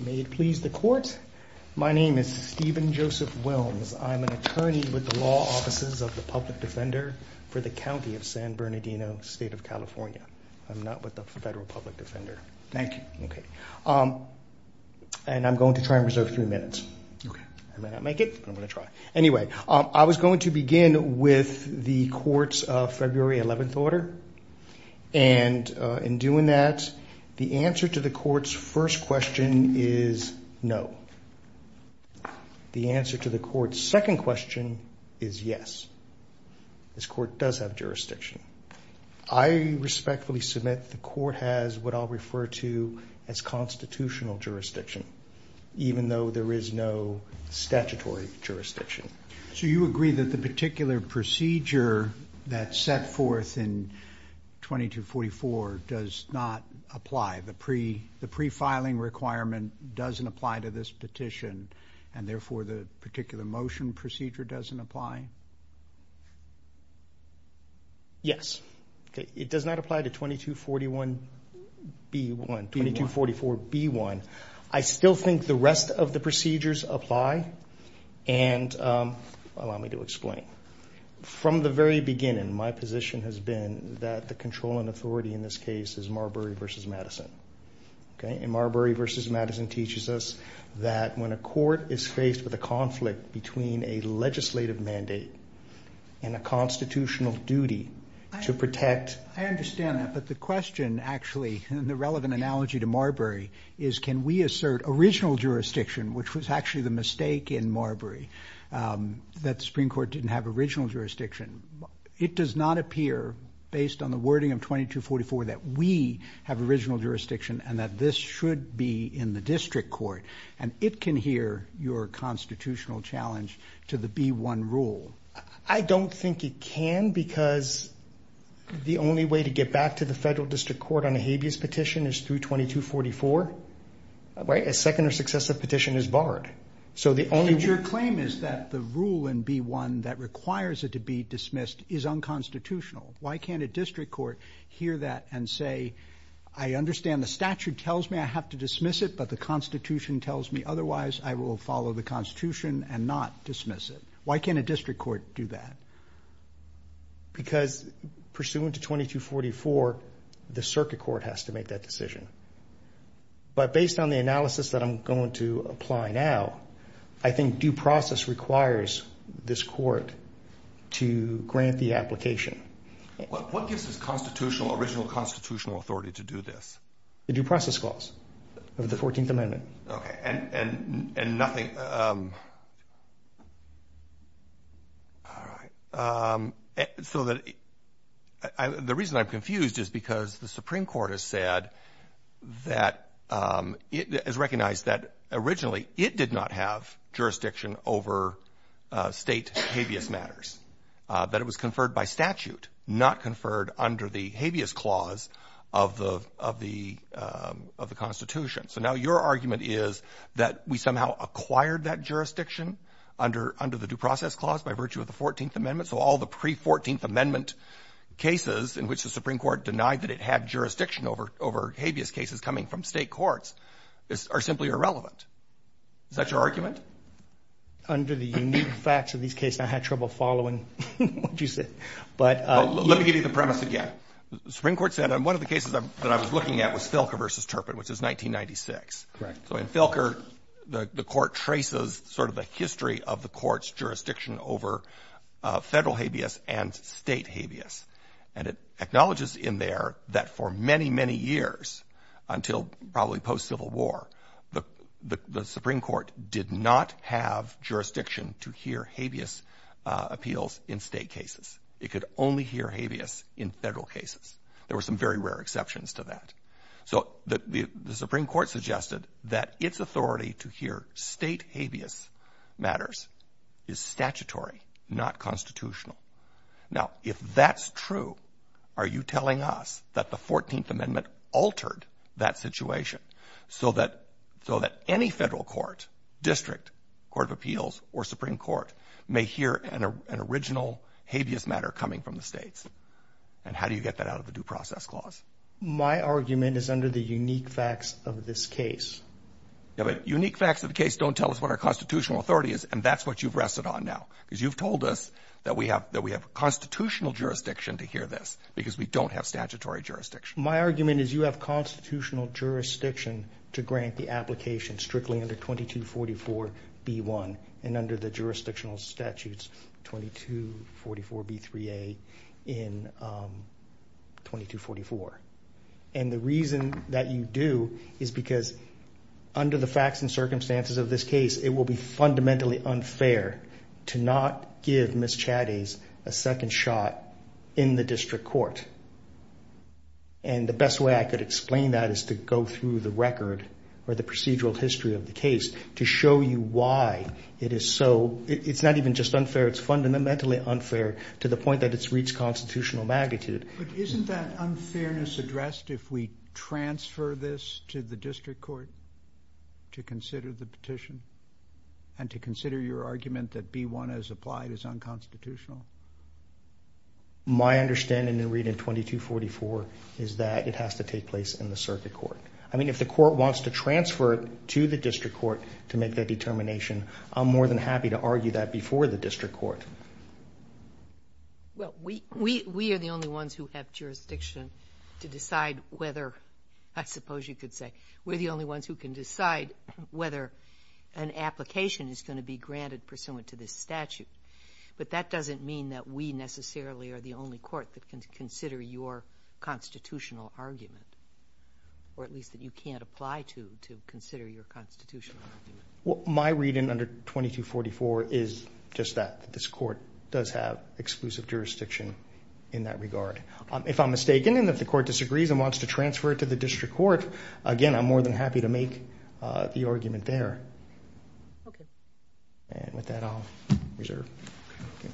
May it please the court. My name is Steven Joseph Wilms. I'm an attorney with the Law Offices of the Public Defender for the County of San Bernardino, State of California. I'm not with the Federal Public Defender. Thank you. Okay. And I'm going to try and reserve three minutes. Okay. I may not make it, but I'm going to try. Anyway, I was going to begin with the court's February 11th order and in doing that, the answer to the court's first question is no. The answer to the court's second question is yes. This court does have jurisdiction. I respectfully submit the court has what I'll refer to as constitutional jurisdiction, even though there is no statutory jurisdiction. So you agree that the pre-filing requirement doesn't apply to this petition and therefore the particular motion procedure doesn't apply? Yes. It does not apply to 2241B1, 2244B1. I still think the rest of the procedures apply and allow me to explain. From the very beginning, my position has been that the controlling authority in this case is Marbury v. Madison. Okay. And Marbury v. Madison teaches us that when a court is faced with a conflict between a legislative mandate and a constitutional duty to protect... I understand that, but the question actually and the relevant analogy to Marbury is can we assert original jurisdiction, which was actually the mistake in Marbury, that the Supreme Court didn't have original jurisdiction? It does not appear, based on the wording of 2244, that we have original jurisdiction and that this should be in the district court, and it can hear your constitutional challenge to the B1 rule. I don't think it can because the only way to get back to the federal district court on a habeas petition is through 2244, right? A second or successive petition is barred. Your claim is that the rule in B1 that requires it to be dismissed is unconstitutional. Why can't a district court hear that and say, I understand the statute tells me I have to dismiss it, but the constitution tells me otherwise I will follow the constitution and not dismiss it. Why can't a district court do that? Because pursuant to 2244, the circuit court has to make that decision. But based on the analysis that I'm going to apply now, I think due process requires this court to grant the application. What gives this constitutional, original constitutional authority to do this? The due process clause of the 14th amendment. Okay, and nothing, um, all right. Um, so that the reason I'm confused is because the Supreme Court has said that it is recognized that originally it did not have jurisdiction over state habeas matters, that it was conferred by statute, not conferred under the habeas clause of the of the of the jurisdiction under under the due process clause by virtue of the 14th amendment. So all the pre-14th amendment cases in which the Supreme Court denied that it had jurisdiction over over habeas cases coming from state courts are simply irrelevant. Is that your argument? Under the unique facts of these cases, I had trouble following what you said. But let me give you the premise again. The Supreme Court said one of the cases that I was looking at was Filker v. Turpin, which is 1996. Correct. So in Filker, the court traces sort of the history of the court's jurisdiction over federal habeas and state habeas. And it acknowledges in there that for many, many years, until probably post-Civil War, the Supreme Court did not have jurisdiction to hear habeas appeals in state cases. It could only hear habeas in Federal cases. There were some very rare exceptions to that. So the Supreme Court suggested that its authority to hear state habeas matters is statutory, not constitutional. Now, if that's true, are you telling us that the 14th amendment altered that situation so that so that any federal court district court of appeals or Supreme Court may hear an original habeas matter coming from the states? And how do you get that out of a due process clause? My argument is under the unique facts of this case. Yeah, but unique facts of the case don't tell us what our constitutional authority is, and that's what you've rested on now. Because you've told us that we have constitutional jurisdiction to hear this, because we don't have statutory jurisdiction. My argument is you have constitutional jurisdiction to grant the application strictly under 2244B1, and under the jurisdictional statutes 2244B3A in 2244. And the reason that you do is because under the facts and circumstances of this case, it will be fundamentally unfair to not give Ms. Chatties a second shot in the district court. And the best way I could explain that is to go through the record or the procedural history of the case to show you why it is so, it's not even just unfair, it's fundamentally unfair to the point that it's reached constitutional magnitude. But isn't that unfairness addressed if we transfer this to the district court to consider the petition and to consider your argument that B1 as applied is unconstitutional? My understanding in reading 2244 is that it has to take place in the circuit court. I mean, if the court wants to transfer it to the district court to make that determination, I'm more than happy to argue that before the district court. Well, we are the only ones who have jurisdiction to decide whether, I suppose you could say, we're the only ones who can decide whether an application is going to be granted pursuant to this statute. But that doesn't mean that we necessarily are the only court that can consider your constitutional argument, or at least that you can't apply to consider your constitutional argument. Well, my reading under 2244 is just that, that this court does have exclusive jurisdiction in that regard. If I'm mistaken and if the court disagrees and wants to transfer it to the district court, again, I'm more than happy to make the argument there. Okay. And with that, I'll reserve. Thank you.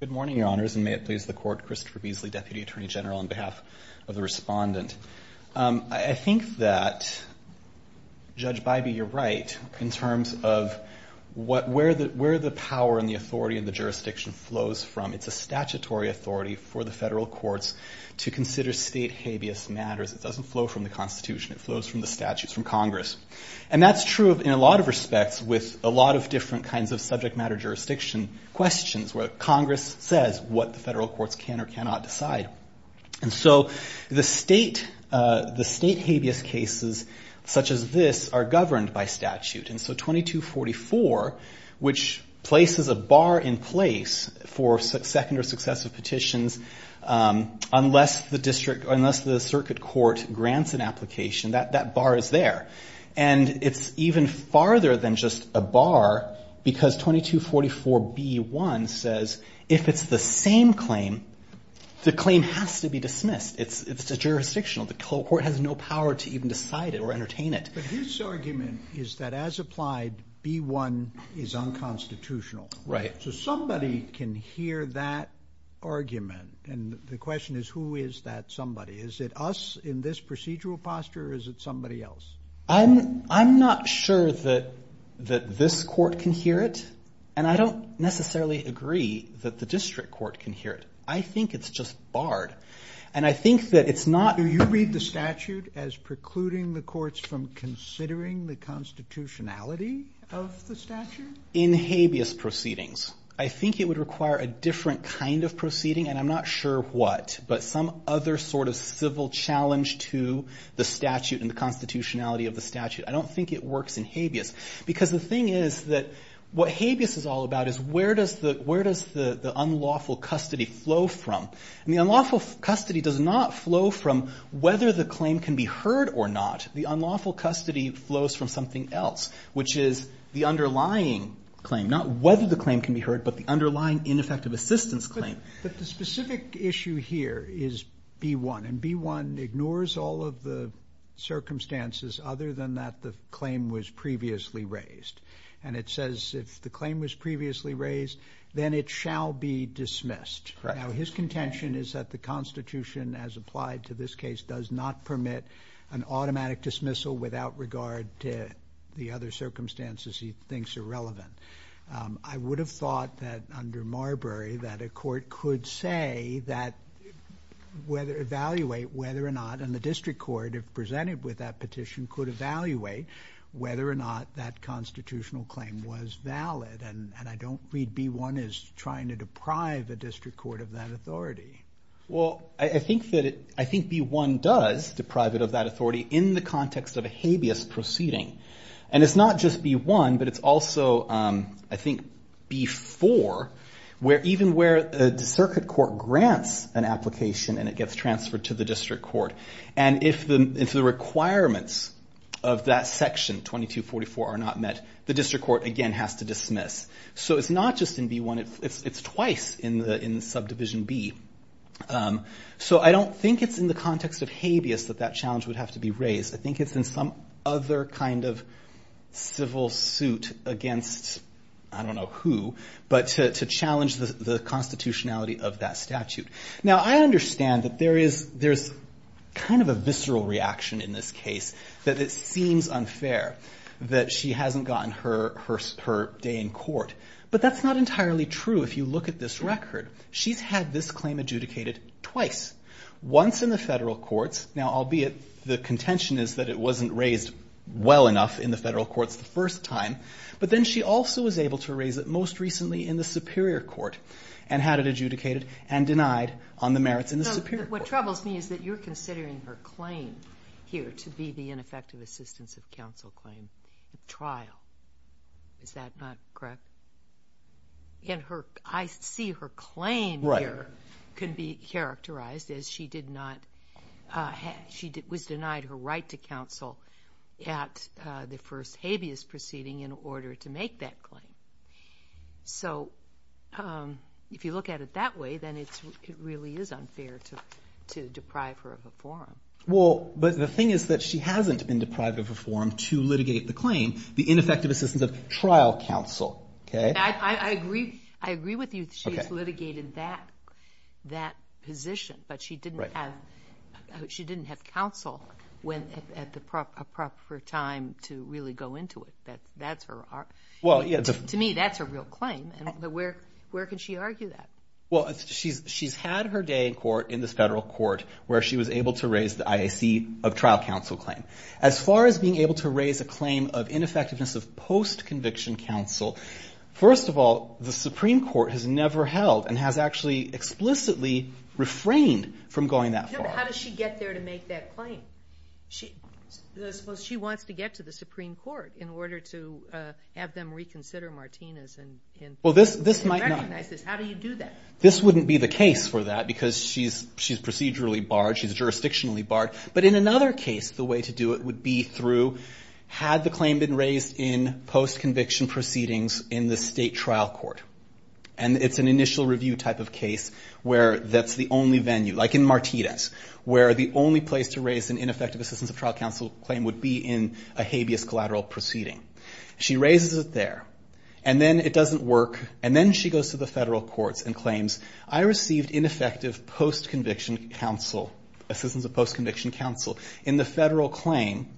Good morning, Your Honors, and may it please the Court, Christopher Beasley, Deputy Attorney General, on behalf of the respondent. I think that, Judge Bybee, you're right in terms of where the power and the authority and the jurisdiction flows from. It's a statutory authority for the federal courts to consider state habeas matters. It doesn't flow from the Constitution. It flows from the statutes from Congress. And that's true in a lot of respects with a lot of different kinds of subject matter jurisdiction questions where Congress says what the federal courts can or cannot decide. And so the state habeas cases such as this are governed by statute. And so 2244, which places a bar in place for second or successive petitions unless the district or unless the circuit court grants an application, that bar is there. And it's even farther than just a bar because 2244B1 says if it's the same claim, the claim has to be dismissed. It's jurisdictional. The court has no power to even decide it or entertain it. But his argument is that as applied, B1 is unconstitutional. Right. So somebody can hear that argument. And the question is, who is that somebody? Is it us in this procedural posture or is it somebody else? I'm not sure that this court can hear it. And I don't necessarily agree that the district court can hear it. I think it's just barred. And I think that it's not... Do you read the statute as precluding the courts from considering the constitutionality of the statute? In habeas proceedings, I think it would require a different kind of proceeding, and I'm not sure what, but some other sort of civil challenge to the statute and the constitutionality of the statute. I don't think it works in habeas. Because the thing is that what habeas is all about is where does the unlawful custody flow from? And the unlawful custody does not flow from whether the claim can be heard or not. The unlawful custody flows from something else, which is the underlying claim, not whether the claim can be heard, but the underlying ineffective assistance claim. But the specific issue here is B1. And B1 ignores all of the circumstances other than that the claim was previously raised. And it says if the claim was previously raised, then it shall be dismissed. Correct. Now, his contention is that the constitution, as applied to this case, does not permit an automatic dismissal without regard to the other circumstances he thinks are relevant. I would have thought that under Marbury that a court could say that, evaluate whether or not, and the district court, if presented with that petition, could evaluate whether or not that constitutional claim was valid. And I don't read B1 as trying to deprive the district court of that authority. Well, I think B1 does deprive it of that authority in the context of a habeas proceeding. And it's not just B1, but it's also, I think, B4, where even where the circuit court grants an application and it gets transferred to the district court. And if the requirements of that section 2244 are not met, the district court, again, has to dismiss. So it's not just in B1, it's twice in subdivision B. So I don't think it's in the context of habeas that that challenge would have to be raised. I think it's in some other kind of civil suit against, I don't know who, but to challenge the constitutionality of that statute. Now, I understand that there's kind of a visceral reaction in this case that it seems unfair that she hasn't gotten her day in court. But that's not entirely true if you look at this record. She's had this claim adjudicated twice, once in the federal courts. Now, albeit the contention is that it wasn't raised well enough in the federal courts the first time. But then she also was able to raise it most recently in the superior court and had it adjudicated and denied on the merits in the superior court. So what troubles me is that you're considering her claim here to be the ineffective assistance of counsel claim trial. Is that not correct? I see her claim here could be characterized as she was denied her right to counsel at the first habeas proceeding in order to make that claim. So if you look at it that way, then it really is unfair to deprive her of a forum. Well, but the thing is that she hasn't been deprived of a forum to litigate the claim, the ineffective assistance of trial counsel. I agree with you. She's litigated that position, but she didn't have counsel at the proper time to really go into it. To me, that's a real claim. Where can she argue that? Well, she's had her day in court, in this federal court, where she was able to raise the IAC of trial counsel claim. As far as being able to raise a claim of ineffectiveness of post-conviction counsel, first of all, the Supreme Court has never held and has actually explicitly refrained from going that far. How does she get there to make that claim? She wants to get to the Supreme Court in order to have them reconsider Martinez and recognize this. How do you do that? This wouldn't be the case for that because she's procedurally barred, she's jurisdictionally barred. But in another case, the way to do it would be through, had the claim been raised in post-conviction proceedings in the state trial court. It's an initial review type of case where that's the only venue, like in Martinez, where the only place to raise an ineffective assistance of trial counsel claim would be in a habeas collateral proceeding. She raises it there, and then it doesn't work. And then she goes to the federal courts and claims, I received ineffective post-conviction counsel, assistance of post-conviction counsel in the federal claim.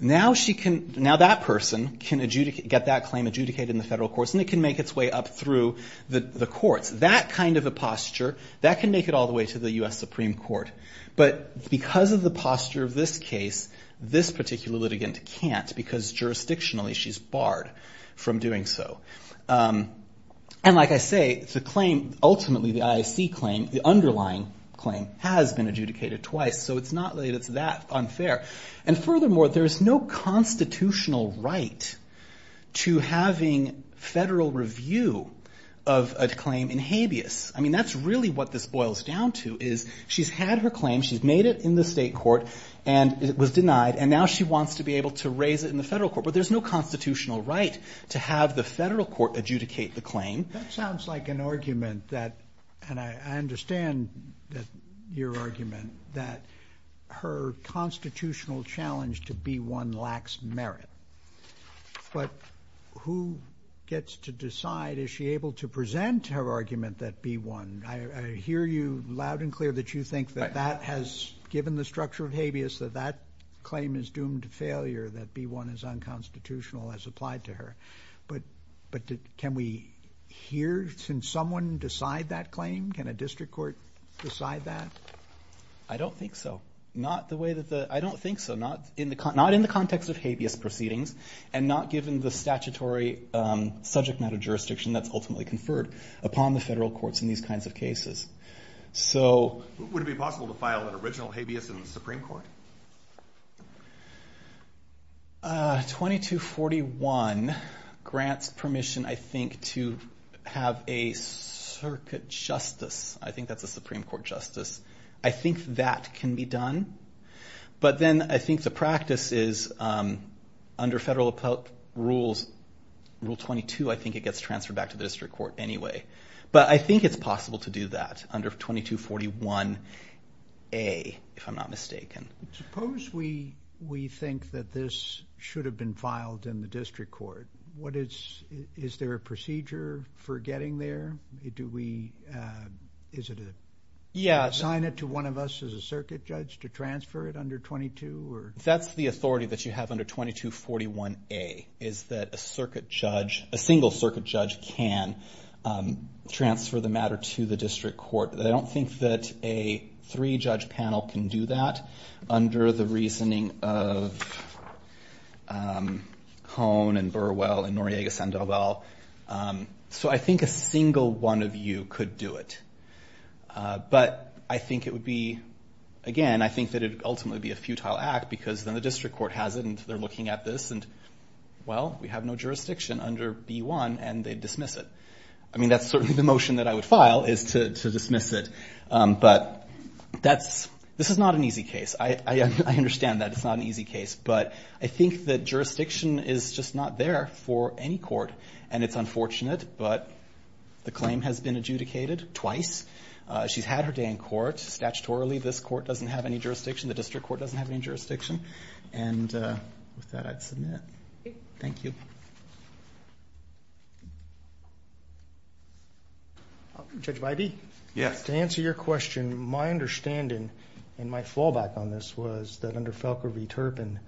Now that person can get that claim adjudicated in the federal courts, and it can make its way up through the courts. That kind of a posture, that can make it all the way to the U.S. Supreme Court. But because of the posture of this case, this particular litigant can't because jurisdictionally she's barred from doing so. And like I say, the claim, ultimately the IAC claim, the underlying claim, has been adjudicated twice. So it's not that it's that unfair. And furthermore, there's no constitutional right to having federal review of a claim in habeas. I mean, that's really what this boils down to, is she's had her claim, she's made it in the state court, and it was denied. And now she wants to be able to raise it in the federal court. But there's no constitutional right to have the federal court adjudicate the claim. That sounds like an argument that, and I understand your argument, that her constitutional challenge to B-1 lacks merit. But who gets to decide, is she able to present her argument that B-1, I hear you loud and clear that you think that that has, given the structure of habeas, that that claim is doomed to failure, that B-1 is unconstitutional as applied to her. But can we hear, can someone decide that claim? Can a district court decide that? I don't think so. Not the way that the, I don't think so. Not in the context of habeas proceedings, and not given the statutory subject matter jurisdiction that's ultimately conferred upon the federal courts in these kinds of cases. Would it be possible to file an original habeas in the Supreme Court? 2241 grants permission, I think, to have a circuit justice. I think that's a Supreme Court justice. I think that can be done. But then I think the practice is, under federal rules, rule 22, I think it gets transferred back to the district court anyway. But I think it's possible to do that under 2241A, if I'm not mistaken. Suppose we think that this should have been filed in the district court. What is, is there a procedure for getting there? Do we, is it a... transfer it under 22, or? That's the authority that you have under 2241A, is that a circuit judge, a single circuit judge, can transfer the matter to the district court. I don't think that a three-judge panel can do that under the reasoning of Cohn and Burwell and Noriega-Sandoval. So I think a single one of you could do it. But I think it would be, again, I think that it would ultimately be a futile act, because then the district court has it, and they're looking at this, and, well, we have no jurisdiction under B1, and they dismiss it. I mean, that's certainly the motion that I would file, is to dismiss it. But that's, this is not an easy case. I understand that it's not an easy case. But I think that jurisdiction is just not there for any court. And it's unfortunate, but the claim has been adjudicated twice. She's had her day in court. Statutorily, this court doesn't have any jurisdiction. The district court doesn't have any jurisdiction. And with that, I'd submit. Thank you. Judge Bidey? Yes. To answer your question, my understanding, and my fallback on this, was that under Felker v. Turpin,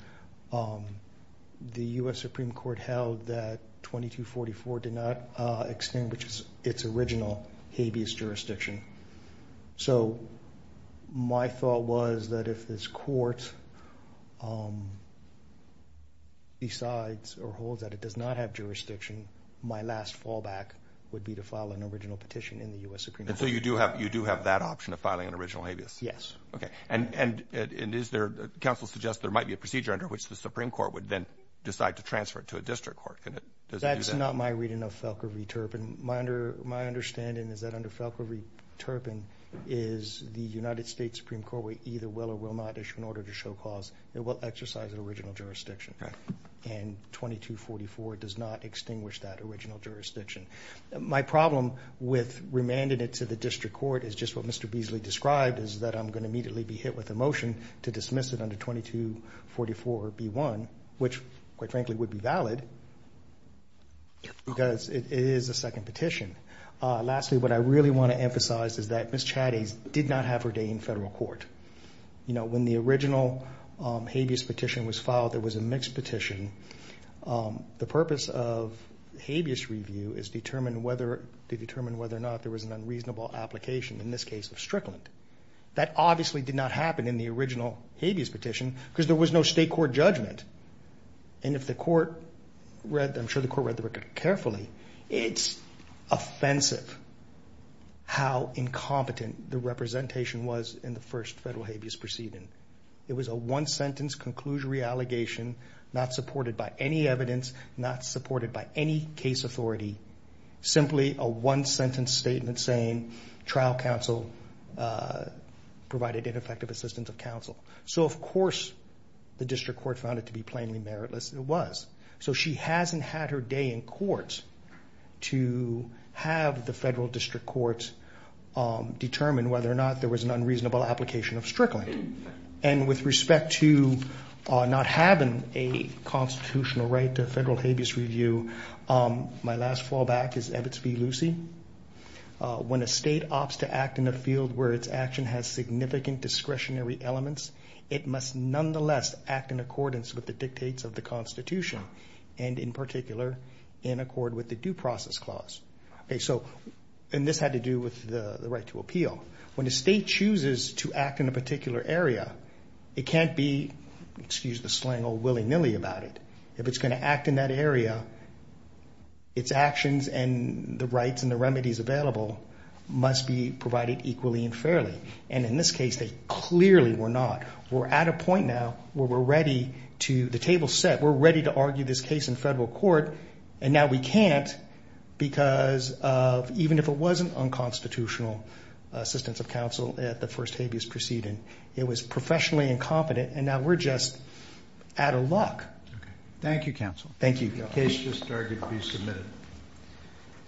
the U.S. Supreme Court held that 2244 did not extinguish its original habeas jurisdiction. So my thought was that if this court decides or holds that it does not have jurisdiction, my last fallback would be to file an original petition in the U.S. Supreme Court. And so you do have that option of filing an original habeas? Yes. Okay. And, and, and is there, counsel suggests there might be a procedure under which the Supreme Court would then decide to transfer it to a district court. That's not my reading of Felker v. Turpin. My under, my understanding is that under Felker v. Turpin is the United States Supreme Court will either will or will not issue an order to show cause. It will exercise the original jurisdiction. And 2244 does not extinguish that original jurisdiction. My problem with remanding it to the district court is just what Mr. Beasley described, is that I'm going to immediately be hit with a motion to dismiss it under 2244B1, which quite frankly would be valid because it is a second petition. Lastly, what I really want to emphasize is that Ms. Chatties did not have her day in federal court. You know, when the original habeas petition was filed, there was a mixed petition. The purpose of habeas review is to determine whether, to determine whether or not there was an unreasonable application, in this case of Strickland. That obviously did not happen in the original habeas petition because there was no state court judgment. And if the court read, I'm sure the court read the record carefully, it's offensive how incompetent the representation was in the first federal habeas proceeding. It was a one-sentence conclusory allegation, not supported by any evidence, not supported by any case authority, simply a one-sentence statement saying trial counsel provided ineffective assistance of counsel. So of course, the district court found it to be plainly meritless. It was. So she hasn't had her day in court to have the federal district court determine whether or not there was an unreasonable application of Strickland. And with respect to not having a constitutional right to federal habeas review, my last fallback is Evitz v. Lucey. When a state opts to act in a field where its action has significant discretionary elements, it must nonetheless act in accordance with the dictates of the Constitution, and in particular, in accord with the Due Process Clause. So, and this had to do with the right to appeal. When a state chooses to act in a particular area, it can't be, excuse the slang, all willy-nilly about it. If it's going to act in that area, its actions and the rights and the remedies available must be provided equally and fairly. And in this case, they clearly were not. We're at a point now where we're ready to, the table's set, we're ready to argue this case in federal court. And now we can't because of, even if it wasn't unconstitutional assistance of counsel at the first habeas proceeding, it was professionally incompetent, and now we're just out of luck. Okay. Thank you, counsel. Thank you. The case has started to be submitted.